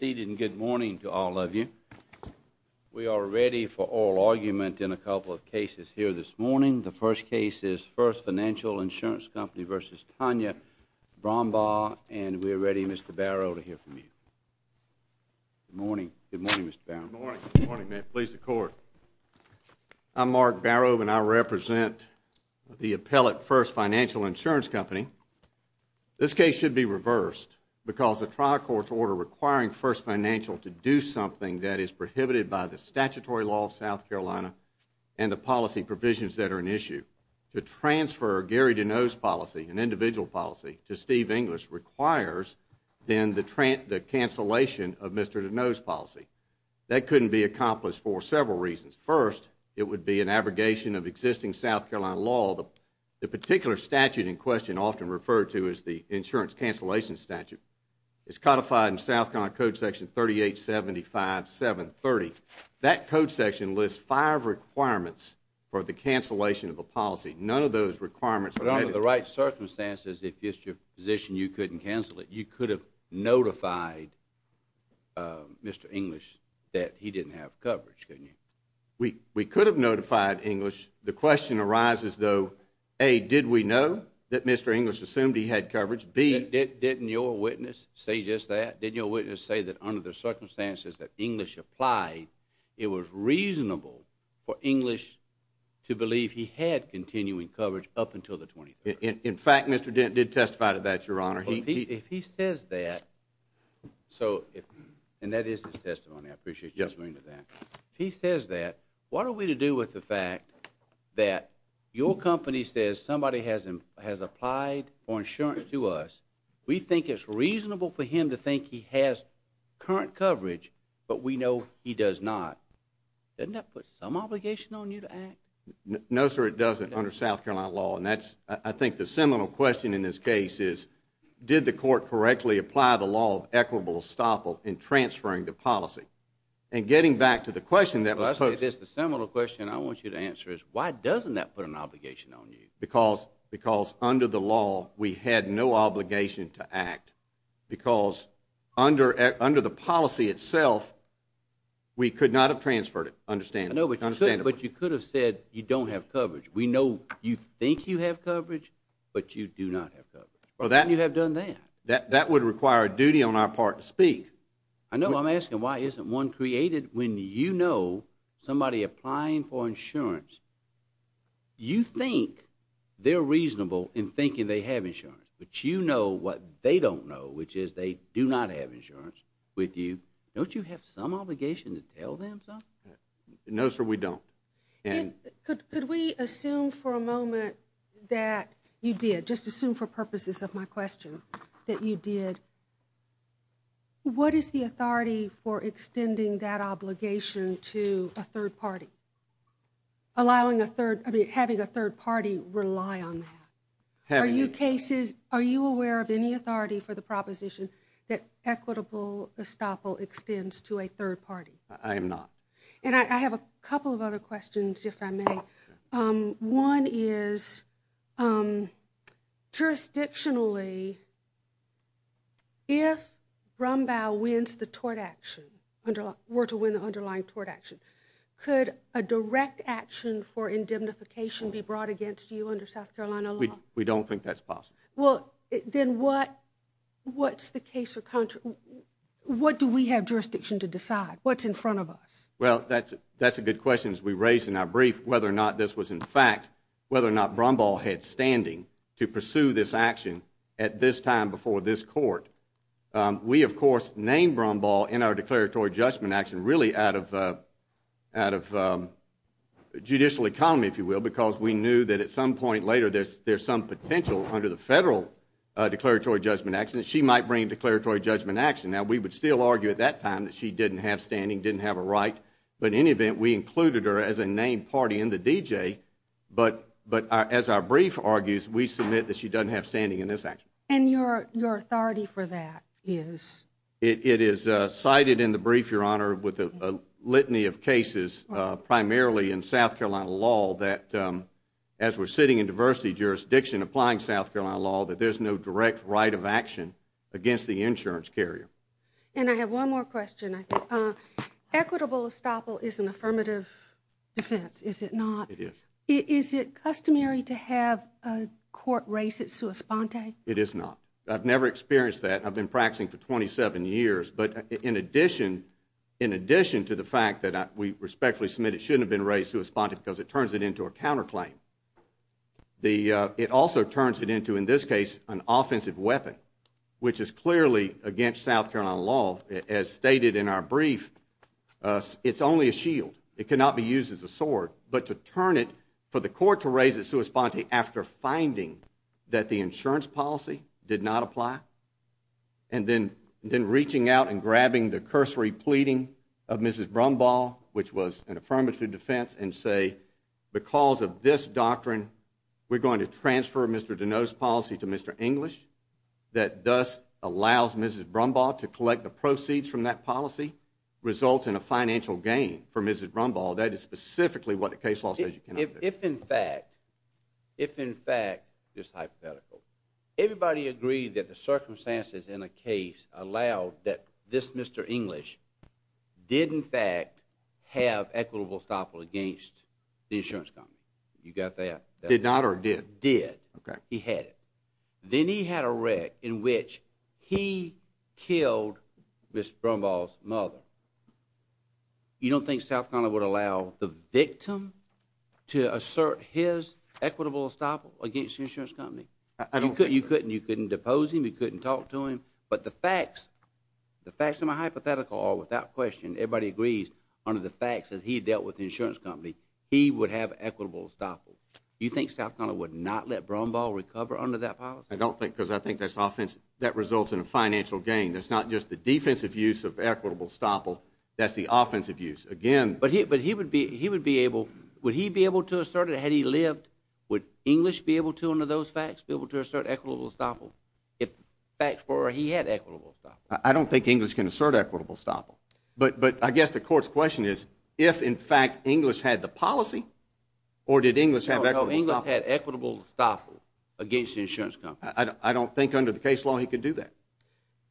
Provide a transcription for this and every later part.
Good morning to all of you. We are ready for oral argument in a couple of cases here this morning. The first case is First Financial Insurance Company v. Tonya Brumbaugh. And we are ready, Mr. Barrow, to hear from you. Good morning. Good morning, Mr. Barrow. Good morning. Good morning. May it please the Court. I'm Mark Barrow, and I represent the appellate First Financial Insurance Company. This case should be reversed because the trial court's order requiring First Financial to do something that is prohibited by the statutory law of South Carolina and the policy provisions that are in issue to transfer Gary Deneau's policy, an individual policy, to Steve English requires then the cancellation of Mr. Deneau's policy. That couldn't be accomplished for several reasons. First, it would be an abrogation of existing South Carolina law. The particular statute in question, often referred to as the insurance cancellation statute, is codified in South Carolina Code Section 3875.7.30. That code section lists five requirements for the cancellation of a policy. None of those requirements were met. But under the right circumstances, if it's your position you couldn't cancel it, you could have notified Mr. English that he didn't have coverage, couldn't you? We could have notified English. The question arises, though, A, did we know that Mr. English assumed he had coverage? B— Didn't your witness say just that? Didn't your witness say that under the circumstances that English applied, it was reasonable for English to believe he had continuing coverage up until the 23rd? In fact, Mr. Dent did testify to that, Your Honor. If he says that, so—and that is his testimony. I appreciate you referring to that. If he says that, what are we to do with the fact that your company says somebody has applied for insurance to us, we think it's reasonable for him to think he has current coverage, but we know he does not? Doesn't that put some obligation on you to act? No, sir, it doesn't under South Carolina law. And that's—I think the seminal question in this case is, did the court correctly apply the law of equitable estoppel in transferring the policy? And getting back to the question that was posed— Well, I say this, the seminal question I want you to answer is, why doesn't that put an obligation on you? Because under the law, we had no obligation to act, because under the policy itself, we could not have transferred it, understandably. I know, but you could have said you don't have coverage. We know you think you have coverage, but you do not have coverage. Well, that— How can you have done that? That would require a duty on our part to speak. I know I'm asking, why isn't one created? When you know somebody applying for insurance, you think they're reasonable in thinking they have insurance, but you know what they don't know, which is they do not have insurance with you. Don't you have some obligation to tell them something? No, sir, we don't. Could we assume for a moment that you did, just assume for purposes of my question, that you did? What is the authority for extending that obligation to a third party? Having a third party rely on that? Are you aware of any authority for the proposition that equitable estoppel extends to a third party? I am not. And I have a couple of other questions, if I may. One is, jurisdictionally, if Brombaugh wins the tort action, were to win the underlying tort action, could a direct action for indemnification be brought against you under South Carolina law? We don't think that's possible. Well, then what's the case—what do we have jurisdiction to decide? What's in front of us? Well, that's a good question, as we raised in our brief, whether or not this was in fact, whether or not Brombaugh had standing to pursue this action at this time before this court. We, of course, named Brombaugh in our declaratory judgment action really out of judicial economy, if you will, because we knew that at some point later there's some potential under the federal declaratory judgment action that she might bring declaratory judgment action. Now, we would still argue at that time that she didn't have standing, didn't have a right. But in any event, we included her as a named party in the DJ. But as our brief argues, we submit that she doesn't have standing in this action. And your authority for that is? It is cited in the brief, Your Honor, with a litany of cases, primarily in South Carolina law, that as we're sitting in diversity jurisdiction applying South Carolina law, that there's no direct right of action against the insurance carrier. And I have one more question. Equitable estoppel is an affirmative defense, is it not? It is. Is it customary to have a court raise it sua sponte? It is not. I've never experienced that. I've been practicing for 27 years. But in addition to the fact that we respectfully submit it shouldn't have been raised sua sponte because it turns it into a counterclaim, it also turns it into, in this case, an offensive weapon, which is clearly against South Carolina law. As stated in our brief, it's only a shield. It cannot be used as a sword. But to turn it for the court to raise it sua sponte after finding that the insurance policy did not apply and then reaching out and grabbing the cursory pleading of Mrs. Brumball, which was an affirmative defense, and say because of this doctrine we're going to transfer Mr. Deneau's policy to Mr. English that thus allows Mrs. Brumball to collect the proceeds from that policy results in a financial gain for Mrs. Brumball, that is specifically what the case law says you cannot do. If in fact, if in fact, just hypothetical, everybody agreed that the circumstances in the case allowed that this Mr. English did in fact have equitable estoppel against the insurance company. You got that? Did not or did? Did. Okay. He had it. Then he had a wreck in which he killed Mrs. Brumball's mother. You don't think South Carolina would allow the victim to assert his equitable estoppel against the insurance company? I don't think so. You couldn't depose him. You couldn't talk to him. But the facts, the facts of my hypothetical are without question, everybody agrees under the facts as he dealt with the insurance company, he would have equitable estoppel. You think South Carolina would not let Brumball recover under that policy? I don't think because I think that's offensive. That results in a financial gain. That's not just the defensive use of equitable estoppel. That's the offensive use. Again. But he would be able, would he be able to assert it had he lived? Would English be able to under those facts be able to assert equitable estoppel? If facts were he had equitable estoppel. I don't think English can assert equitable estoppel. But I guess the court's question is if, in fact, English had the policy or did English have equitable estoppel? No, English had equitable estoppel against the insurance company. I don't think under the case law he could do that.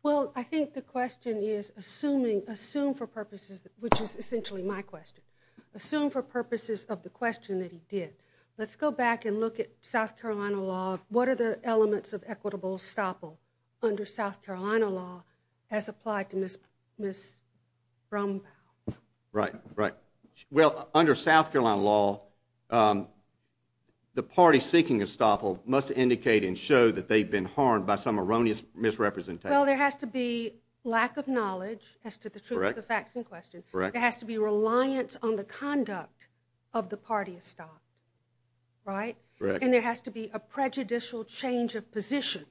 Well, I think the question is assume for purposes, which is essentially my question, assume for purposes of the question that he did. Let's go back and look at South Carolina law. What are the elements of equitable estoppel under South Carolina law as applied to Ms. Brumbaugh? Right, right. Well, under South Carolina law, the party seeking estoppel must indicate and show that they've been harmed by some erroneous misrepresentation. Well, there has to be lack of knowledge as to the truth of the facts in question. Correct. There has to be reliance on the conduct of the party estoppel. Right? Correct. And there has to be a prejudicial change of position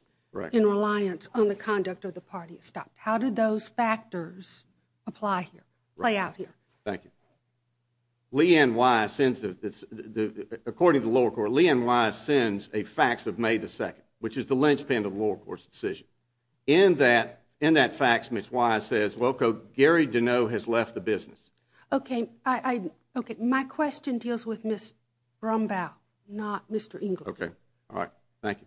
in reliance on the conduct of the party estoppel. How do those factors apply here, play out here? Thank you. Leigh Ann Wise, according to the lower court, Leigh Ann Wise sends a fax of May 2nd, which is the linchpin of the lower court's decision. In that fax, Ms. Wise says, well, Gary Deneau has left the business. Okay. My question deals with Ms. Brumbaugh, not Mr. English. Okay. All right. Thank you.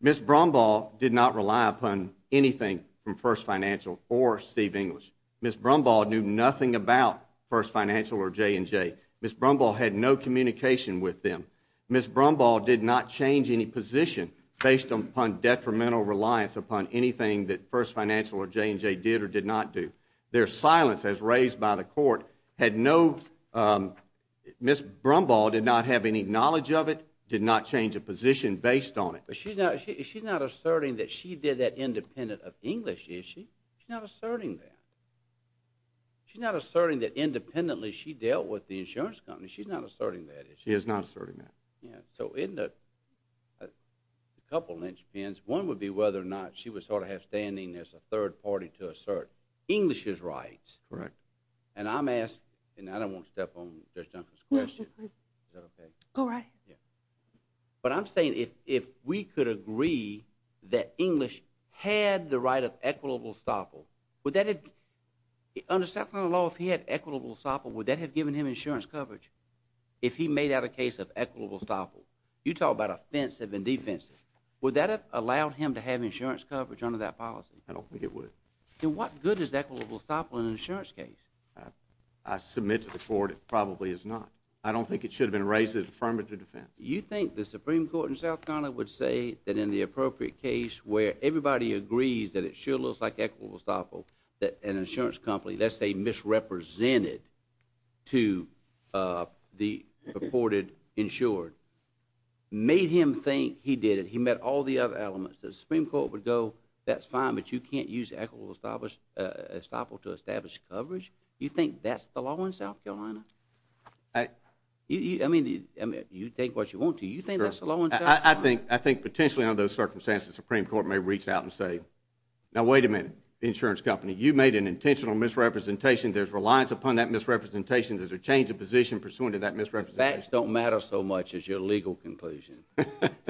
Ms. Brumbaugh did not rely upon anything from First Financial or Steve English. Ms. Brumbaugh knew nothing about First Financial or J&J. Ms. Brumbaugh had no communication with them. Ms. Brumbaugh did not change any position based upon detrimental reliance upon anything that First Financial or J&J did or did not do. Their silence, as raised by the court, had no—Ms. Brumbaugh did not have any knowledge of it, did not change a position based on it. But she's not asserting that she did that independent of English, is she? She's not asserting that. She's not asserting that independently she dealt with the insurance company. She's not asserting that, is she? She is not asserting that. Yeah. So in the—a couple of lynchpins. One would be whether or not she would sort of have standing as a third party to assert English's rights. Correct. And I'm asking—and I don't want to step on Judge Dunford's question. No, no, no. Is that okay? Go right ahead. Yeah. But I'm saying if we could agree that English had the right of equitable estoppel, would that have— under South Carolina law, if he had equitable estoppel, would that have given him insurance coverage, if he made out a case of equitable estoppel? You talk about offensive and defensive. Would that have allowed him to have insurance coverage under that policy? I don't think it would. Then what good is equitable estoppel in an insurance case? I submit to the court it probably is not. I don't think it should have been raised as affirmative defense. You think the Supreme Court in South Carolina would say that in the appropriate case where everybody agrees that it sure looks like equitable estoppel, that an insurance company, let's say, misrepresented to the reported insured, made him think he did it. He met all the other elements. The Supreme Court would go, that's fine, but you can't use equitable estoppel to establish coverage? You think that's the law in South Carolina? I mean, you take what you want to. You think that's the law in South Carolina? I think potentially under those circumstances the Supreme Court may reach out and say, now wait a minute, insurance company, you made an intentional misrepresentation. There's reliance upon that misrepresentation. There's a change of position pursuant to that misrepresentation. Facts don't matter so much as your legal conclusion.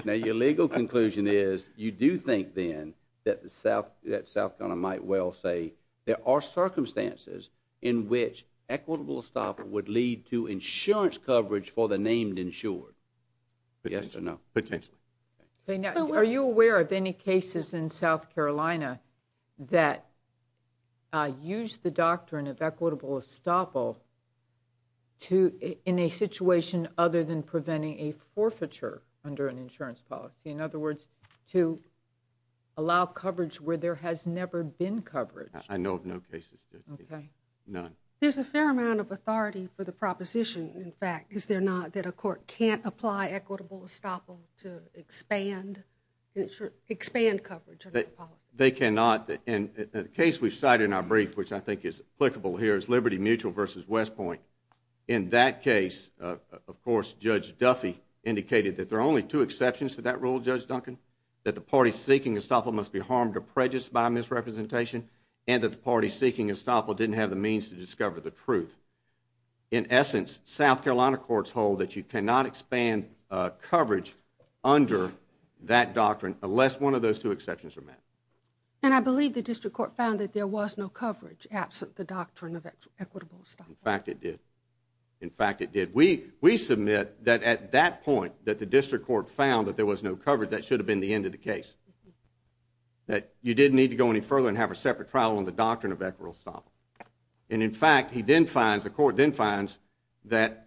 Now your legal conclusion is you do think then that South Carolina might well say there are circumstances in which equitable estoppel would lead to insurance coverage for the named insured. Yes or no? Potentially. Are you aware of any cases in South Carolina that use the doctrine of equitable estoppel in a situation other than preventing a forfeiture under an insurance policy? In other words, to allow coverage where there has never been coverage. I know of no cases. None. There's a fair amount of authority for the proposition, in fact, is there not, that a court can't apply equitable estoppel to expand coverage under the policy? They cannot. The case we've cited in our brief, which I think is applicable here, is Liberty Mutual versus West Point. In that case, of course, Judge Duffy indicated that there are only two exceptions to that rule, Judge Duncan, that the party seeking estoppel must be harmed or prejudiced by misrepresentation and that the party seeking estoppel didn't have the means to discover the truth. In essence, South Carolina courts hold that you cannot expand coverage under that doctrine unless one of those two exceptions are met. And I believe the district court found that there was no coverage absent the doctrine of equitable estoppel. In fact, it did. In fact, it did. We submit that at that point, that the district court found that there was no coverage, that should have been the end of the case. That you didn't need to go any further and have a separate trial on the doctrine of equitable estoppel. And, in fact, the court then finds that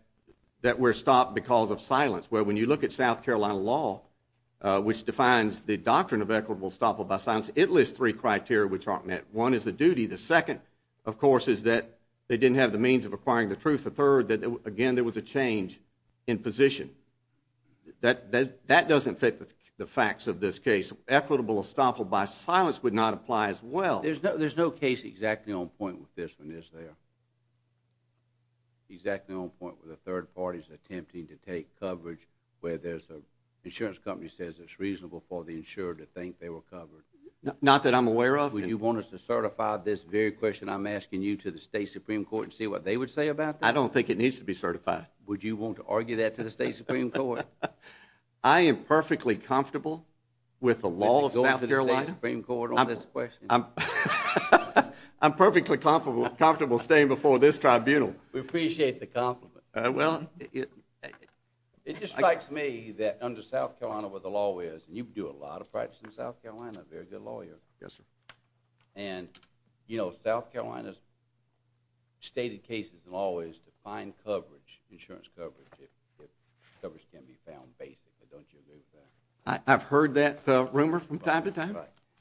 we're stopped because of silence. Well, when you look at South Carolina law, which defines the doctrine of equitable estoppel by silence, it lists three criteria which aren't met. One is the duty. The second, of course, is that they didn't have the means of acquiring the truth. The third, again, there was a change in position. That doesn't fit the facts of this case. Equitable estoppel by silence would not apply as well. There's no case exactly on point with this one, is there? Exactly on point with the third parties attempting to take coverage where there's an insurance company says it's reasonable for the insurer to think they were covered. Not that I'm aware of. Would you want us to certify this very question I'm asking you to the state supreme court and see what they would say about that? I don't think it needs to be certified. Would you want to argue that to the state supreme court? I am perfectly comfortable with the law of South Carolina. Would you want to argue that to the state supreme court on this question? I'm perfectly comfortable staying before this tribunal. We appreciate the compliment. Well, it just strikes me that under South Carolina where the law is, and you do a lot of practice in South Carolina, a very good lawyer. Yes, sir. And, you know, South Carolina's stated case in the law is to find coverage, insurance coverage, if coverage can be found basically. Don't you agree with that? I've heard that rumor from time to time.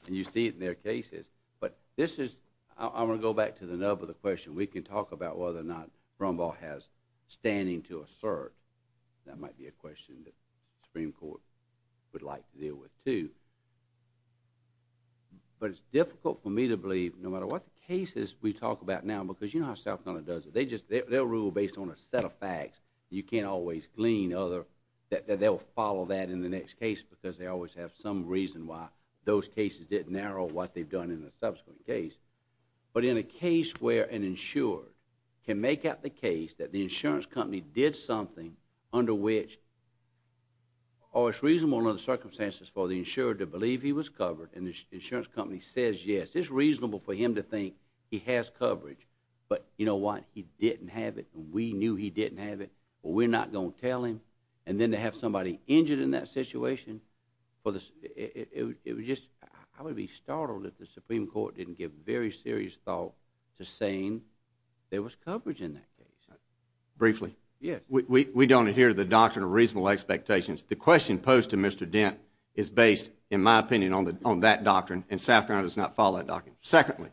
And you see it in their cases. But this is, I'm going to go back to the nub of the question. We can talk about whether or not Rumbaugh has standing to assert. That might be a question that the supreme court would like to deal with, too. But it's difficult for me to believe, no matter what the cases we talk about now, because you know how South Carolina does it. They just, they'll rule based on a set of facts. You can't always glean other, that they'll follow that in the next case because they always have some reason why those cases didn't narrow what they've done in the subsequent case. But in a case where an insured can make out the case that the insurance company did something under which, oh, it's reasonable under the circumstances for the insured to believe he was covered, and the insurance company says yes. It's reasonable for him to think he has coverage. But you know what? He didn't have it. We knew he didn't have it, but we're not going to tell him. And then to have somebody injured in that situation, I would be startled if the supreme court didn't give very serious thought to saying there was coverage in that case. Briefly. Yes. We don't adhere to the doctrine of reasonable expectations. The question posed to Mr. Dent is based, in my opinion, on that doctrine, and South Carolina does not follow that doctrine. Secondly,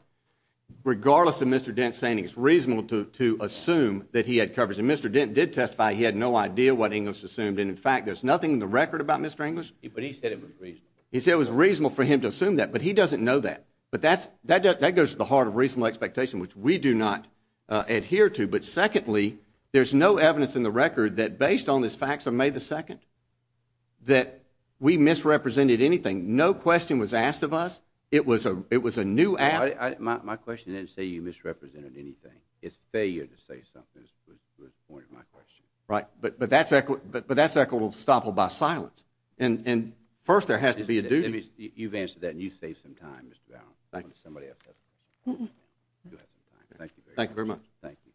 regardless of Mr. Dent saying it's reasonable to assume that he had coverage, and Mr. Dent did testify he had no idea what English assumed, and in fact there's nothing in the record about Mr. English. But he said it was reasonable. He said it was reasonable for him to assume that, but he doesn't know that. But that goes to the heart of reasonable expectation, which we do not adhere to. But secondly, there's no evidence in the record that based on this facts of May 2nd that we misrepresented anything. No question was asked of us. It was a new act. My question didn't say you misrepresented anything. It's failure to say something was the point of my question. Right. But that's equitable estoppel by silence. And first there has to be a duty. You've answered that, and you saved some time, Mr. Bowne. Thank you. Thank you very much. Thank you.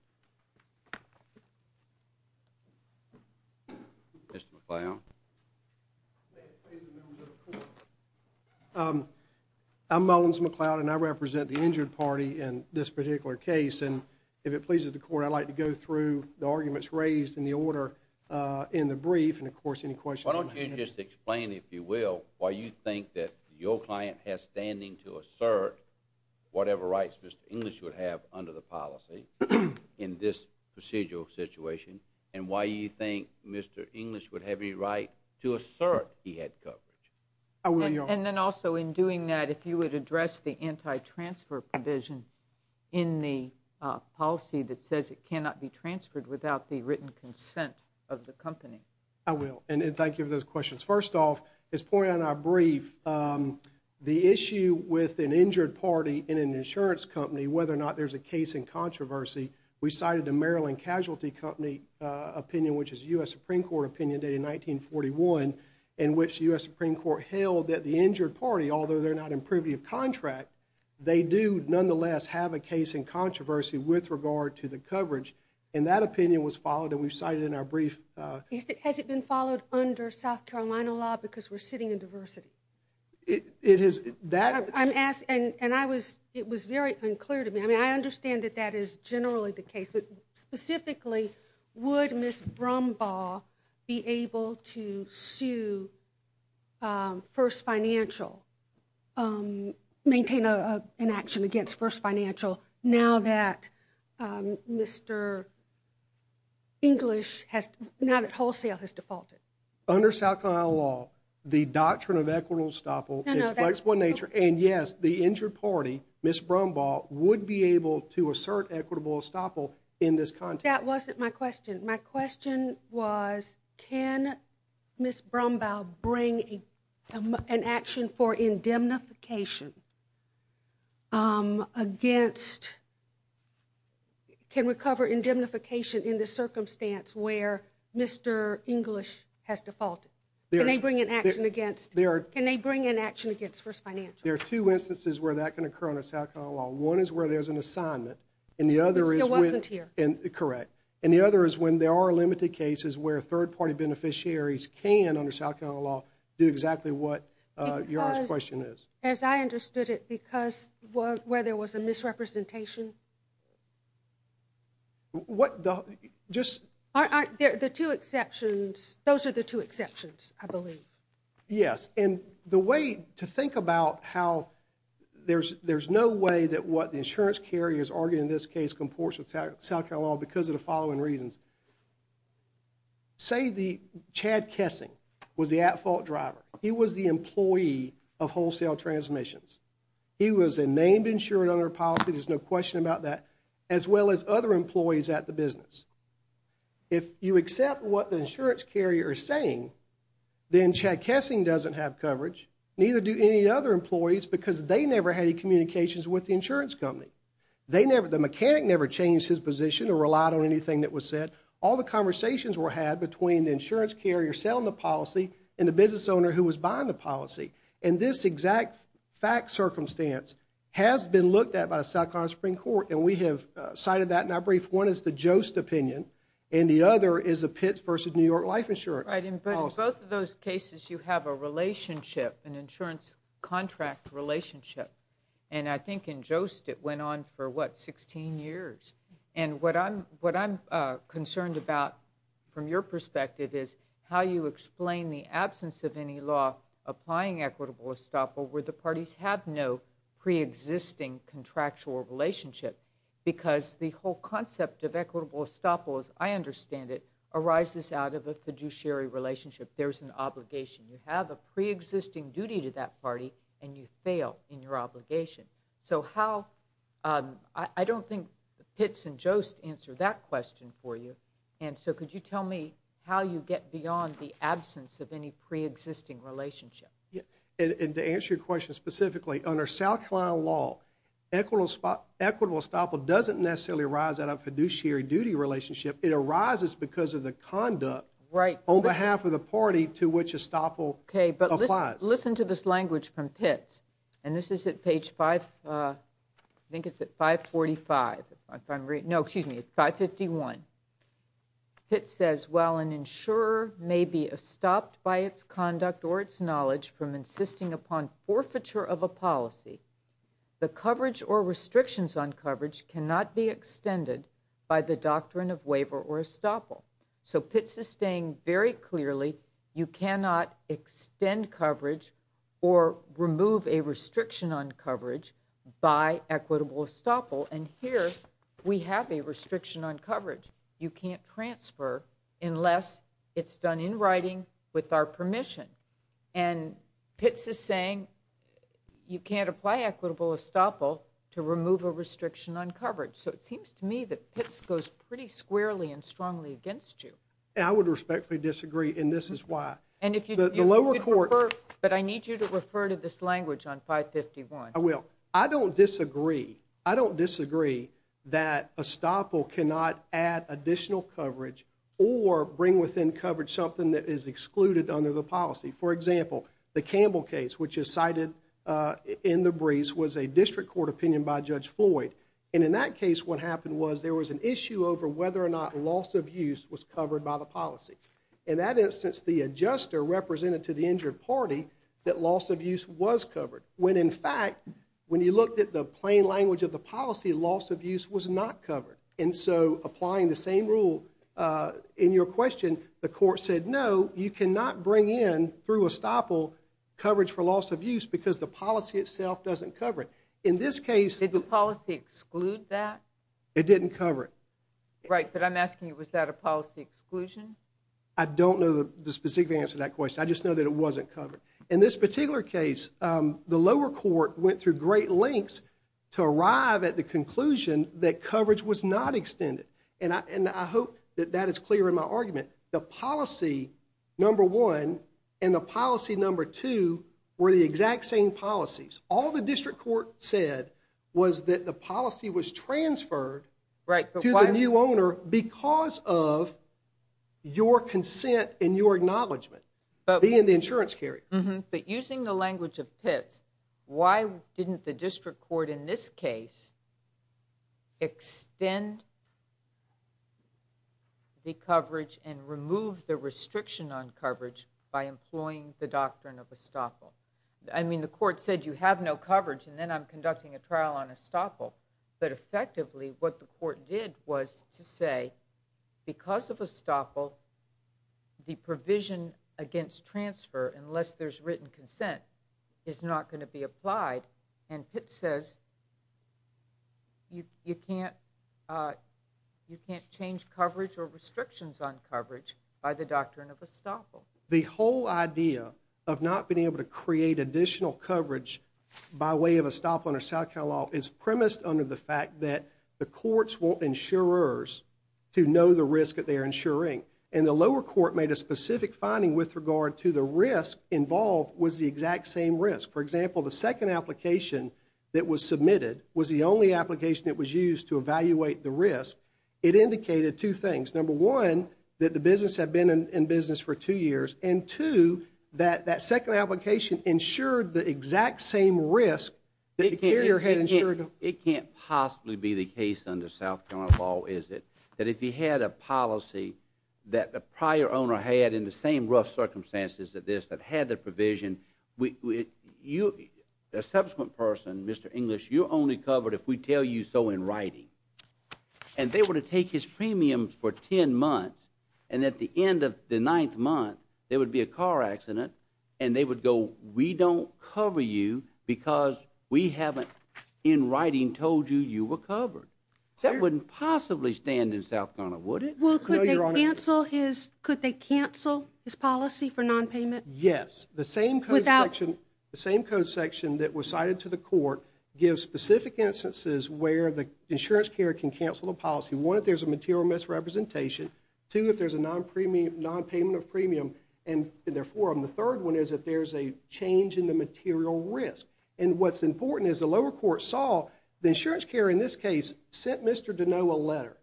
Mr. McLeod. May it please the members of the court. I'm Mullins McLeod, and I represent the injured party in this particular case. And if it pleases the court, I'd like to go through the arguments raised in the order in the brief. And, of course, any questions? Why don't you just explain, if you will, why you think that your client has standing to assert whatever rights Mr. English would have under the policy in this procedural situation, and why you think Mr. English would have any right to assert he had coverage? I will, Your Honor. And then also in doing that, if you would address the anti-transfer provision in the policy that says it cannot be transferred without the written consent of the company. I will. And thank you for those questions. First off, as pointed out in our brief, the issue with an injured party in an insurance company, whether or not there's a case in controversy, we cited the Maryland Casualty Company opinion, which is a U.S. Supreme Court opinion dated 1941, in which the U.S. Supreme Court held that the injured party, although they're not in privy of contract, they do nonetheless have a case in controversy with regard to the coverage. And that opinion was followed, and we cited it in our brief. Has it been followed under South Carolina law because we're sitting in diversity? It is. I'm asking, and it was very unclear to me. I mean, I understand that that is generally the case. But specifically, would Ms. Brumbaugh be able to sue First Financial, maintain an action against First Financial now that Mr. English has, now that Wholesale has defaulted? Under South Carolina law, the doctrine of equitable estoppel is flexible in nature. And, yes, the injured party, Ms. Brumbaugh, would be able to assert equitable estoppel in this context. That wasn't my question. My question was can Ms. Brumbaugh bring an action for indemnification against, can recover indemnification in the circumstance where Mr. English has defaulted? Can they bring an action against First Financial? There are two instances where that can occur under South Carolina law. One is where there's an assignment. And the other is when. He wasn't here. Correct. And the other is when there are limited cases where third-party beneficiaries can, under South Carolina law, do exactly what your question is. Because, as I understood it, because where there was a misrepresentation? What the, just. The two exceptions, those are the two exceptions, I believe. Yes. And the way to think about how there's no way that what the insurance carrier is arguing in this case comports with South Carolina law because of the following reasons. Say Chad Kessing was the at-fault driver. He was the employee of Wholesale Transmissions. He was a named insured under policy. There's no question about that. As well as other employees at the business. If you accept what the insurance carrier is saying, then Chad Kessing doesn't have coverage. Neither do any other employees because they never had any communications with the insurance company. They never, the mechanic never changed his position or relied on anything that was said. All the conversations were had between the insurance carrier selling the policy and the business owner who was buying the policy. And this exact fact circumstance has been looked at by the South Carolina Supreme Court. And we have cited that in our brief. One is the Jost opinion and the other is the Pitts v. New York Life Insurance. But in both of those cases you have a relationship, an insurance contract relationship. And I think in Jost it went on for, what, 16 years. And what I'm concerned about from your perspective is how you explain the absence of any law applying equitable estoppel where the parties have no preexisting contractual relationship. Because the whole concept of equitable estoppel as I understand it arises out of a fiduciary relationship. There's an obligation. You have a preexisting duty to that party and you fail in your obligation. So how, I don't think Pitts and Jost answer that question for you. And so could you tell me how you get beyond the absence of any preexisting relationship? And to answer your question specifically, under South Carolina law, equitable estoppel doesn't necessarily arise out of fiduciary duty relationship. It arises because of the conduct on behalf of the party to which estoppel applies. Okay. But listen to this language from Pitts. And this is at page 5, I think it's at 545. No, excuse me, 551. Pitts says, While an insurer may be stopped by its conduct or its knowledge from insisting upon forfeiture of a policy, the coverage or restrictions on coverage cannot be extended by the doctrine of waiver or estoppel. So Pitts is saying very clearly you cannot extend coverage or remove a restriction on coverage by equitable estoppel. And here we have a restriction on coverage. You can't transfer unless it's done in writing with our permission. And Pitts is saying you can't apply equitable estoppel to remove a restriction on coverage. So it seems to me that Pitts goes pretty squarely and strongly against you. I would respectfully disagree. And this is why. But I need you to refer to this language on 551. I will. I don't disagree. I don't disagree that estoppel cannot add additional coverage or bring within coverage something that is excluded under the policy. For example, the Campbell case, which is cited in the briefs was a district court opinion by Judge Floyd. And in that case, what happened was there was an issue over whether or not loss of use was covered by the policy. In that instance, the adjuster represented to the injured party that loss of use was covered. When, in fact, when you looked at the plain language of the policy, loss of use was not covered. And so applying the same rule in your question, the court said no, you cannot bring in through estoppel coverage for loss of use because the policy itself doesn't cover it. In this case. Did the policy exclude that? It didn't cover it. Right. But I'm asking you, was that a policy exclusion? I don't know the specific answer to that question. I just know that it wasn't covered. In this particular case, the lower court went through great lengths to arrive at the conclusion that coverage was not extended. And I, and I hope that that is clear in my argument, the policy number one and the policy number two, where the exact same policies, all the district court said was that the policy was transferred. Right. To the new owner because of your consent and your acknowledgement, but being the insurance carry, but using the language of pits, why didn't the district court in this case? Extend. The coverage and remove the restriction on coverage by employing the doctrine of estoppel. I mean, the court said you have no coverage and then I'm conducting a trial on estoppel, but effectively what the court did was to say because of estoppel, the provision against transfer, unless there's written consent is not going to be applied. And it says you, you can't, uh, you can't change coverage or restrictions on coverage by the doctrine of estoppel. The whole idea of not being able to create additional coverage by way of estoppel under South Cal law is premised under the fact that the courts won't insurers to know the risk that they are ensuring. And the lower court made a specific finding with regard to the risk involved was the exact same risk. For example, the second application that was submitted was the only application that was used to evaluate the risk. It indicated two things. Number one, that the business had been in business for two years and to that, that second application insured the exact same risk that the carrier had insured. It can't possibly be the case under South County law is it that if he had a policy that the prior owner had in the same rough circumstances that this, that had the provision, we, you, a subsequent person, Mr. English, you're only covered if we tell you so in writing and they were to take his premiums for 10 months. And at the end of the ninth month, there would be a car accident and they would go, we don't cover you because we haven't in writing told you you were covered. That wouldn't possibly stand in South Ghana, would it? Well, could they cancel his, could they cancel his policy for nonpayment? Yes. The same code section, the same code section that was cited to the court gives specific instances where the insurance carrier can cancel the policy. One, if there's a material misrepresentation to, if there's a non premium, nonpayment of premium. And therefore, I'm the third one is that there's a change in the material risk. And what's important is the lower court saw the insurance carrier in this case, sent Mr. to know a letter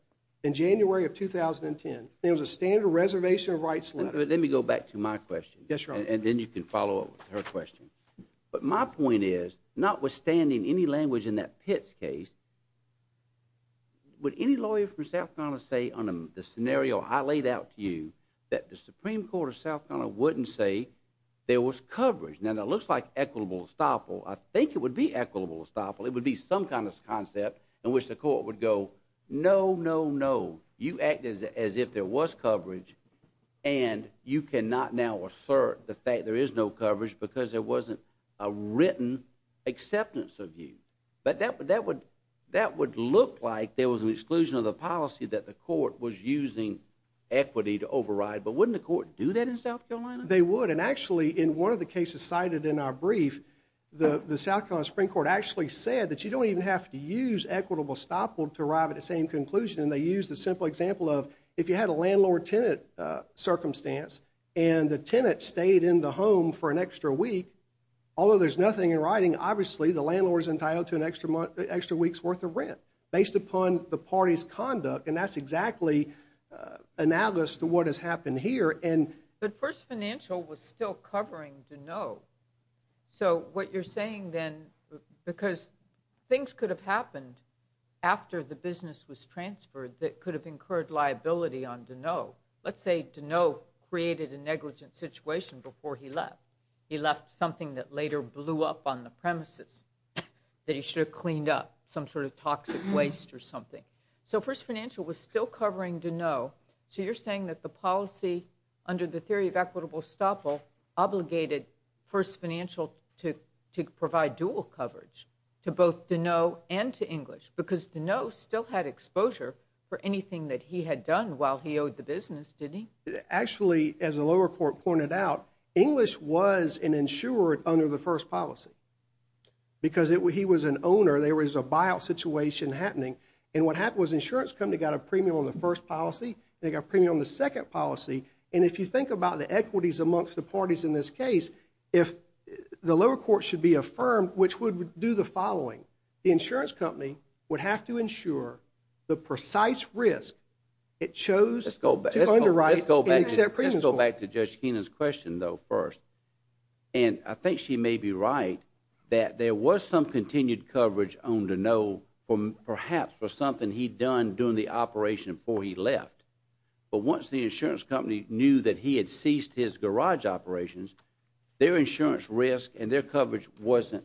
in January of 2010. There was a standard reservation of rights. Let me go back to my question. Yes, and then you can follow up with her question. But my point is not withstanding any language in that pits case, would any lawyer from South Ghana say on the scenario I laid out to you that the Supreme Court of South Ghana wouldn't say there was coverage. Now that looks like equitable estoppel. I think it would be equitable estoppel. It would be some kind of concept in which the court would go. No, no, no. You act as if there was coverage and you cannot now assert the fact there is no coverage because there wasn't a written acceptance of you. But that would, that would, that would look like there was an exclusion of the policy that the court was using equity to override. But wouldn't the court do that in South Carolina? They would. And actually in one of the cases cited in our brief, the, the South Carolina Supreme Court actually said that you don't even have to use equitable estoppel to arrive at the same conclusion. And they use the simple example of if you had a landlord tenant circumstance and the tenant stayed in the home for an extra week, although there's nothing in writing, obviously the landlord's entitled to an extra month, extra week's worth of rent based upon the party's conduct. And that's exactly analogous to what has happened here. And the first financial was still covering to know. So what you're saying then, because things could have happened after the business was transferred that could have incurred liability on to know, let's say to know created a negligent situation before he left. He left something that later blew up on the premises that he should have cleaned up some sort of toxic waste or something. So first financial was still covering to know. So you're saying that the policy under the theory of equitable estoppel obligated first financial to provide dual coverage to both to know and to English because to know still had exposure for anything that he had done while he owed the business, didn't he? Actually, as the lower court pointed out, English was an insured under the first policy because he was an owner. There was a buyout situation happening. And what happened was insurance company got a premium on the first policy. They got premium on the second policy. And if you think about the equities amongst the parties in this case, if the lower court should be affirmed, which would do the following, the insurance company would have to ensure the precise risk. It chose to underwrite and accept premiums. Let's go back to Judge Kenan's question though first. And I think she may be right that there was some continued coverage on to know from perhaps for something he'd done during the operation before he knew that he had ceased his garage operations, their insurance risk and their coverage wasn't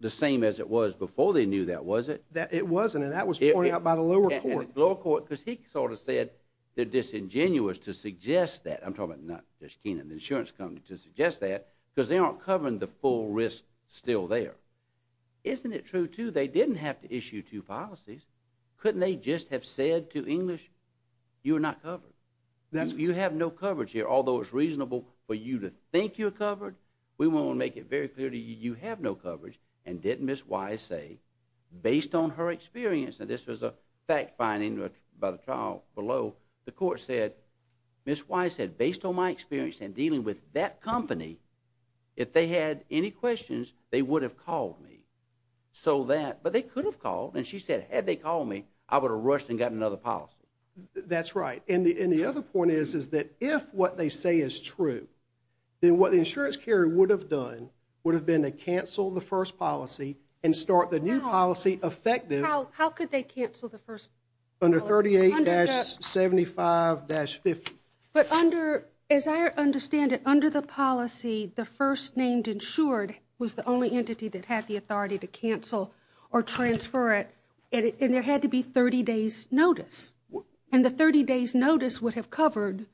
the same as it was before they knew that, was it? It wasn't. And that was pointed out by the lower court. Lower court because he sort of said they're disingenuous to suggest that. I'm talking about not just Kenan, the insurance company to suggest that because they aren't covering the full risk still there. Isn't it true too? They didn't have to issue two policies. Couldn't they just have said to English, you are not covered. You have no coverage here, although it's reasonable for you to think you're covered. We want to make it very clear to you, you have no coverage and didn't miss Y say based on her experience. And this was a fact finding by the trial below. The court said, miss Y said based on my experience and dealing with that company, if they had any questions, they would have called me so that, but they could have called. And she said, had they called me, I would have rushed and got another policy. That's right. And the, and the other point is, is that if what they say is true, then what the insurance carrier would have done would have been to cancel the first policy and start the new policy effective. How, how could they cancel the first under 38 75 dash 50. But under, as I understand it under the policy, the first named insured was the only entity that had the authority to cancel or transfer it. And there had to be 30 days notice. And the 30 days notice would have covered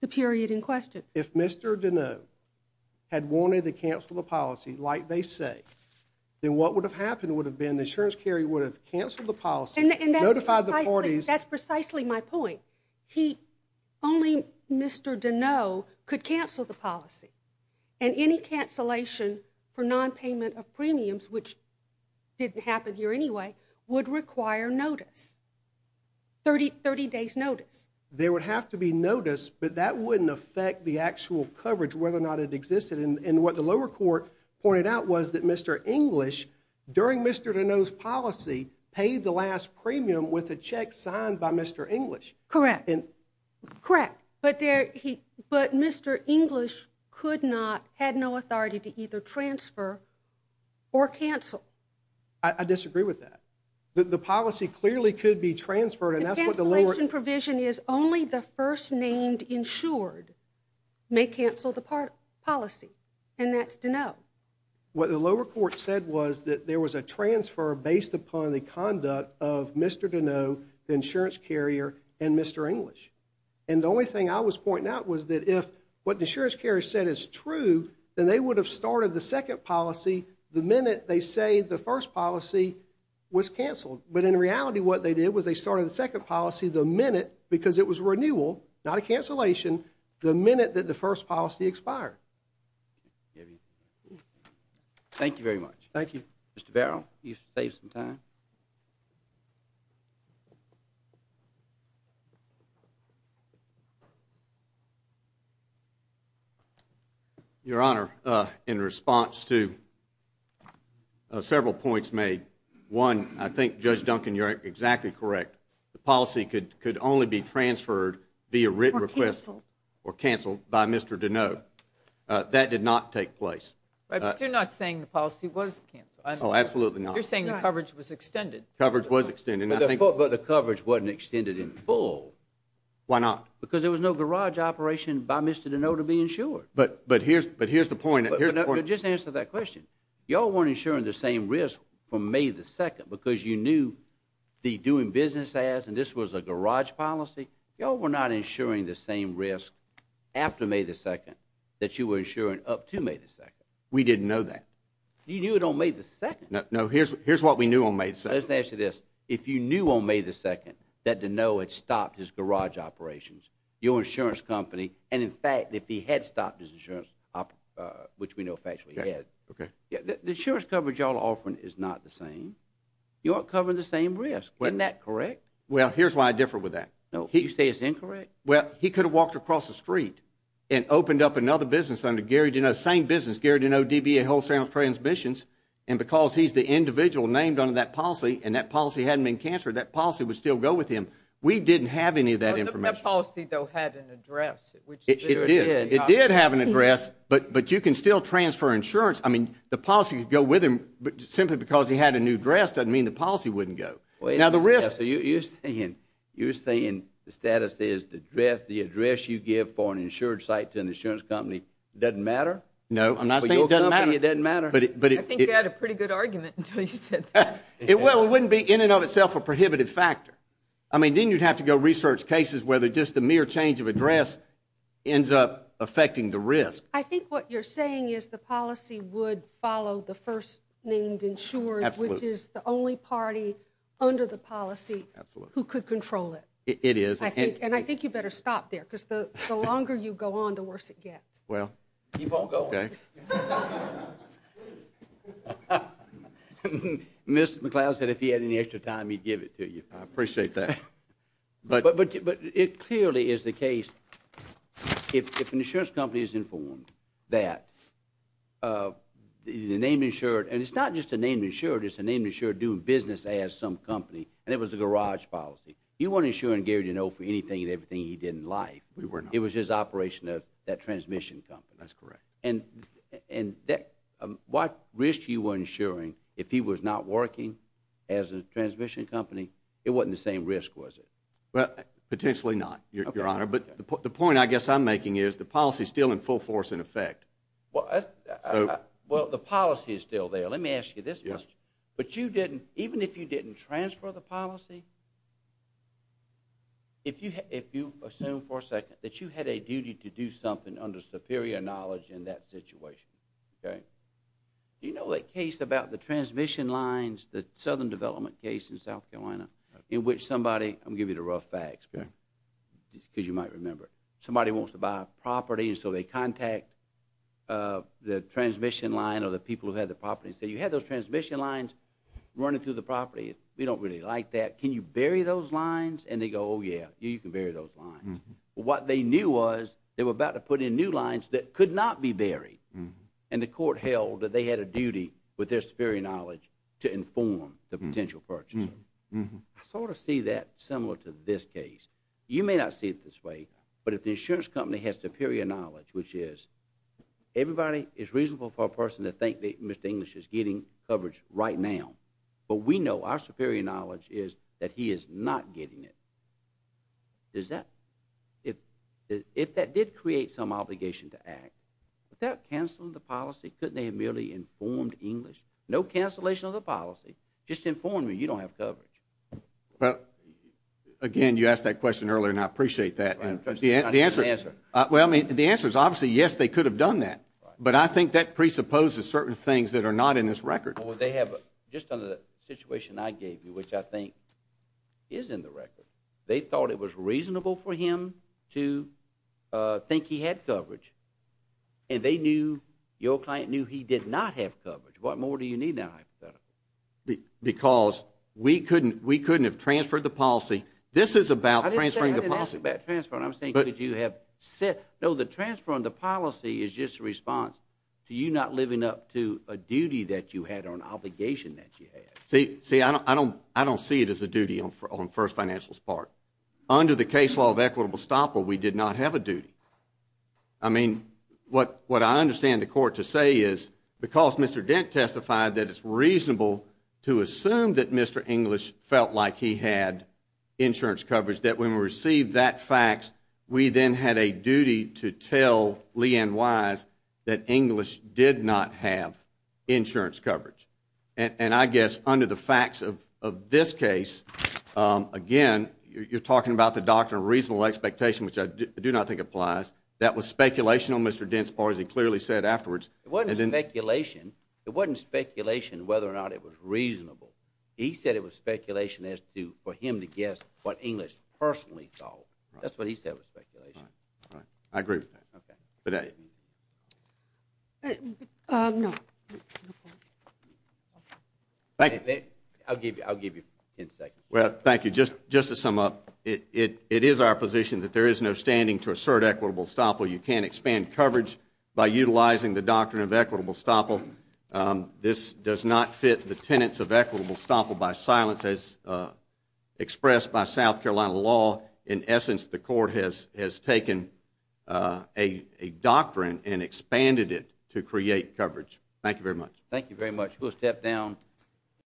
the period in question. If Mr. Dino had wanted to cancel the policy, like they say, then what would have happened would have been the insurance carry would have canceled the policy and notify the parties. That's precisely my point. He only Mr. Dino could cancel the policy and any cancellation for non-payment of premiums, which didn't happen here anyway, would require notice. 30, 30 days notice. They would have to be noticed, but that wouldn't affect the actual coverage, whether or not it existed in, in what the lower court pointed out was that Mr. English during Mr. Dino's policy paid the last premium with a check signed by Mr. English. Correct. Correct. But there he, but Mr. English could not had no authority to either transfer or cancel. I disagree with that. The policy clearly could be transferred. And that's what the lower provision is. Only the first named insured may cancel the part policy. And that's Dino. What the lower court said was that there was a transfer based upon the conduct of Mr. Dino, the insurance carrier and Mr. English. And the only thing I was pointing out was that if what the insurance carrier said is true, then they would have started the second policy. The minute they say the first policy was canceled. But in reality, what they did was they started the second policy the minute, because it was renewal, not a cancellation. The minute that the first policy expired. Thank you very much. Thank you. Mr. Barrow, you save some time. Your honor. In response to. Several points made one. I think judge Duncan, you're exactly correct. The policy could, could only be transferred via written request or canceled by Mr. Dino. That did not take place. You're not saying the policy was canceled. Oh, absolutely not. You're saying the coverage was extended. Coverage was extended. But the coverage wasn't extended in full. Why not? Because there was no garage operation by Mr. Dino to be insured. But, but, but here's, but here's the point. Just answer that question. Y'all weren't insuring the same risk from may the second, because you knew. The doing business as, and this was a garage policy. Y'all were not insuring the same risk. After may the second. That you were insuring up to may the second. We didn't know that. You knew it on may the second. No, here's, here's what we knew on may. So let's answer this. If you knew on may the second, that Dino had stopped his garage operations. Your insurance company. And in fact, if he had stopped his insurance, which we know factually he had. Okay. The insurance coverage y'all are offering is not the same. You aren't covering the same risk. Isn't that correct? Well, here's why I differ with that. No, you say it's incorrect. Well, he could have walked across the street and opened up another business under Gary Dino. Same business. Gary Dino, DBA, Wholesale Transmissions. And because he's the individual named under that policy, and that policy hadn't been canceled, that policy would still go with him. We didn't have any of that information. That policy, though, had an address. It did. It did have an address. But, but you can still transfer insurance. I mean, the policy could go with him, but simply because he had a new dress doesn't mean the policy wouldn't go. Now, the risk. You're saying, you're saying the status is the dress, the address you give for an insured site to an insurance company doesn't matter? No, I'm not saying it doesn't matter. It doesn't matter. I think you had a pretty good argument until you said that. Well, it wouldn't be in and of itself a prohibited factor. I mean, then you'd have to go research cases, whether just the mere change of address ends up affecting the risk. I think what you're saying is the policy would follow the first-named insured, which is the only party under the policy who could control it. It is. And I think you better stop there, because the longer you go on, the worse it gets. Well, keep on going. Okay. Mr. McLeod said if he had any extra time, he'd give it to you. I appreciate that. But it clearly is the case if an insurance company is informed that the name insured, and it's not just the name insured, it's the name insured doing business as some company, and it was a garage policy. You weren't insuring Gary Duneau for anything and everything he did in life. We were not. It was his operation of that transmission company. That's correct. And what risk you were insuring, if he was not working as a transmission company, it wasn't the same risk, was it? Well, potentially not, Your Honor. But the point I guess I'm making is the policy is still in full force in effect. Well, the policy is still there. Let me ask you this question. Yes. But even if you didn't transfer the policy, if you assume for a second that you had a duty to do something under superior knowledge in that situation, okay, do you know that case about the transmission lines, the Southern Development case in South Carolina, in which somebody, I'm going to give you the rough facts, because you might remember, somebody wants to buy a property, and so they contact the transmission line or the people who had the property and say, you had those transmission lines running through the property. We don't really like that. Can you bury those lines? And they go, oh, yeah, you can bury those lines. What they knew was they were about to put in new lines that could not be buried, and the court held that they had a duty with their superior knowledge to inform the potential purchase. I sort of see that similar to this case. You may not see it this way, but if the insurance company has superior knowledge, which is, everybody, it's reasonable for a person to think that Mr. English is getting coverage right now, but we know our superior knowledge is that he is not getting it. Does that, if that did create some obligation to act, without canceling the policy, couldn't they have merely informed English? No cancellation of the policy. Just inform me you don't have coverage. Well, again, you asked that question earlier, and I appreciate that. The answer is, obviously, yes, they could have done that, but I think that presupposes certain things that are not in this record. Well, they have, just under the situation I gave you, which I think is in the record, they thought it was reasonable for him to think he had coverage, and they knew, your client knew he did not have coverage. What more do you need now hypothetically? Because we couldn't have transferred the policy. This is about transferring the policy. I didn't ask about transferring. I was saying could you have said, no, the transfer on the policy is just a response to you not living up to a duty that you had or an obligation that you had. See, I don't see it as a duty on First Financial's part. Under the case law of equitable stopper, we did not have a duty. I mean, what I understand the court to say is, because Mr. Dent testified that it's reasonable to assume that Mr. English felt like he had insurance coverage, that when we received that fax, we then had a duty to tell Lee Ann Wise that English did not have insurance coverage. And I guess under the facts of this case, again, you're talking about the doctrine of reasonable expectation, which I do not think applies. That was speculation on Mr. Dent's part, as he clearly said afterwards. It wasn't speculation. It wasn't speculation whether or not it was reasonable. He said it was speculation as to for him to guess what English personally thought. That's what he said was speculation. All right. I agree with that. Okay. Thank you. I'll give you 10 seconds. Well, thank you. Just to sum up, it is our position that there is no standing to assert equitable stopper. You can't expand coverage by utilizing the doctrine of equitable stopper. This does not fit the tenets of equitable stopper by silence, as expressed by South Carolina law. In essence, the court has taken a doctrine and expanded it to create coverage. Thank you very much. Thank you very much. We'll step down.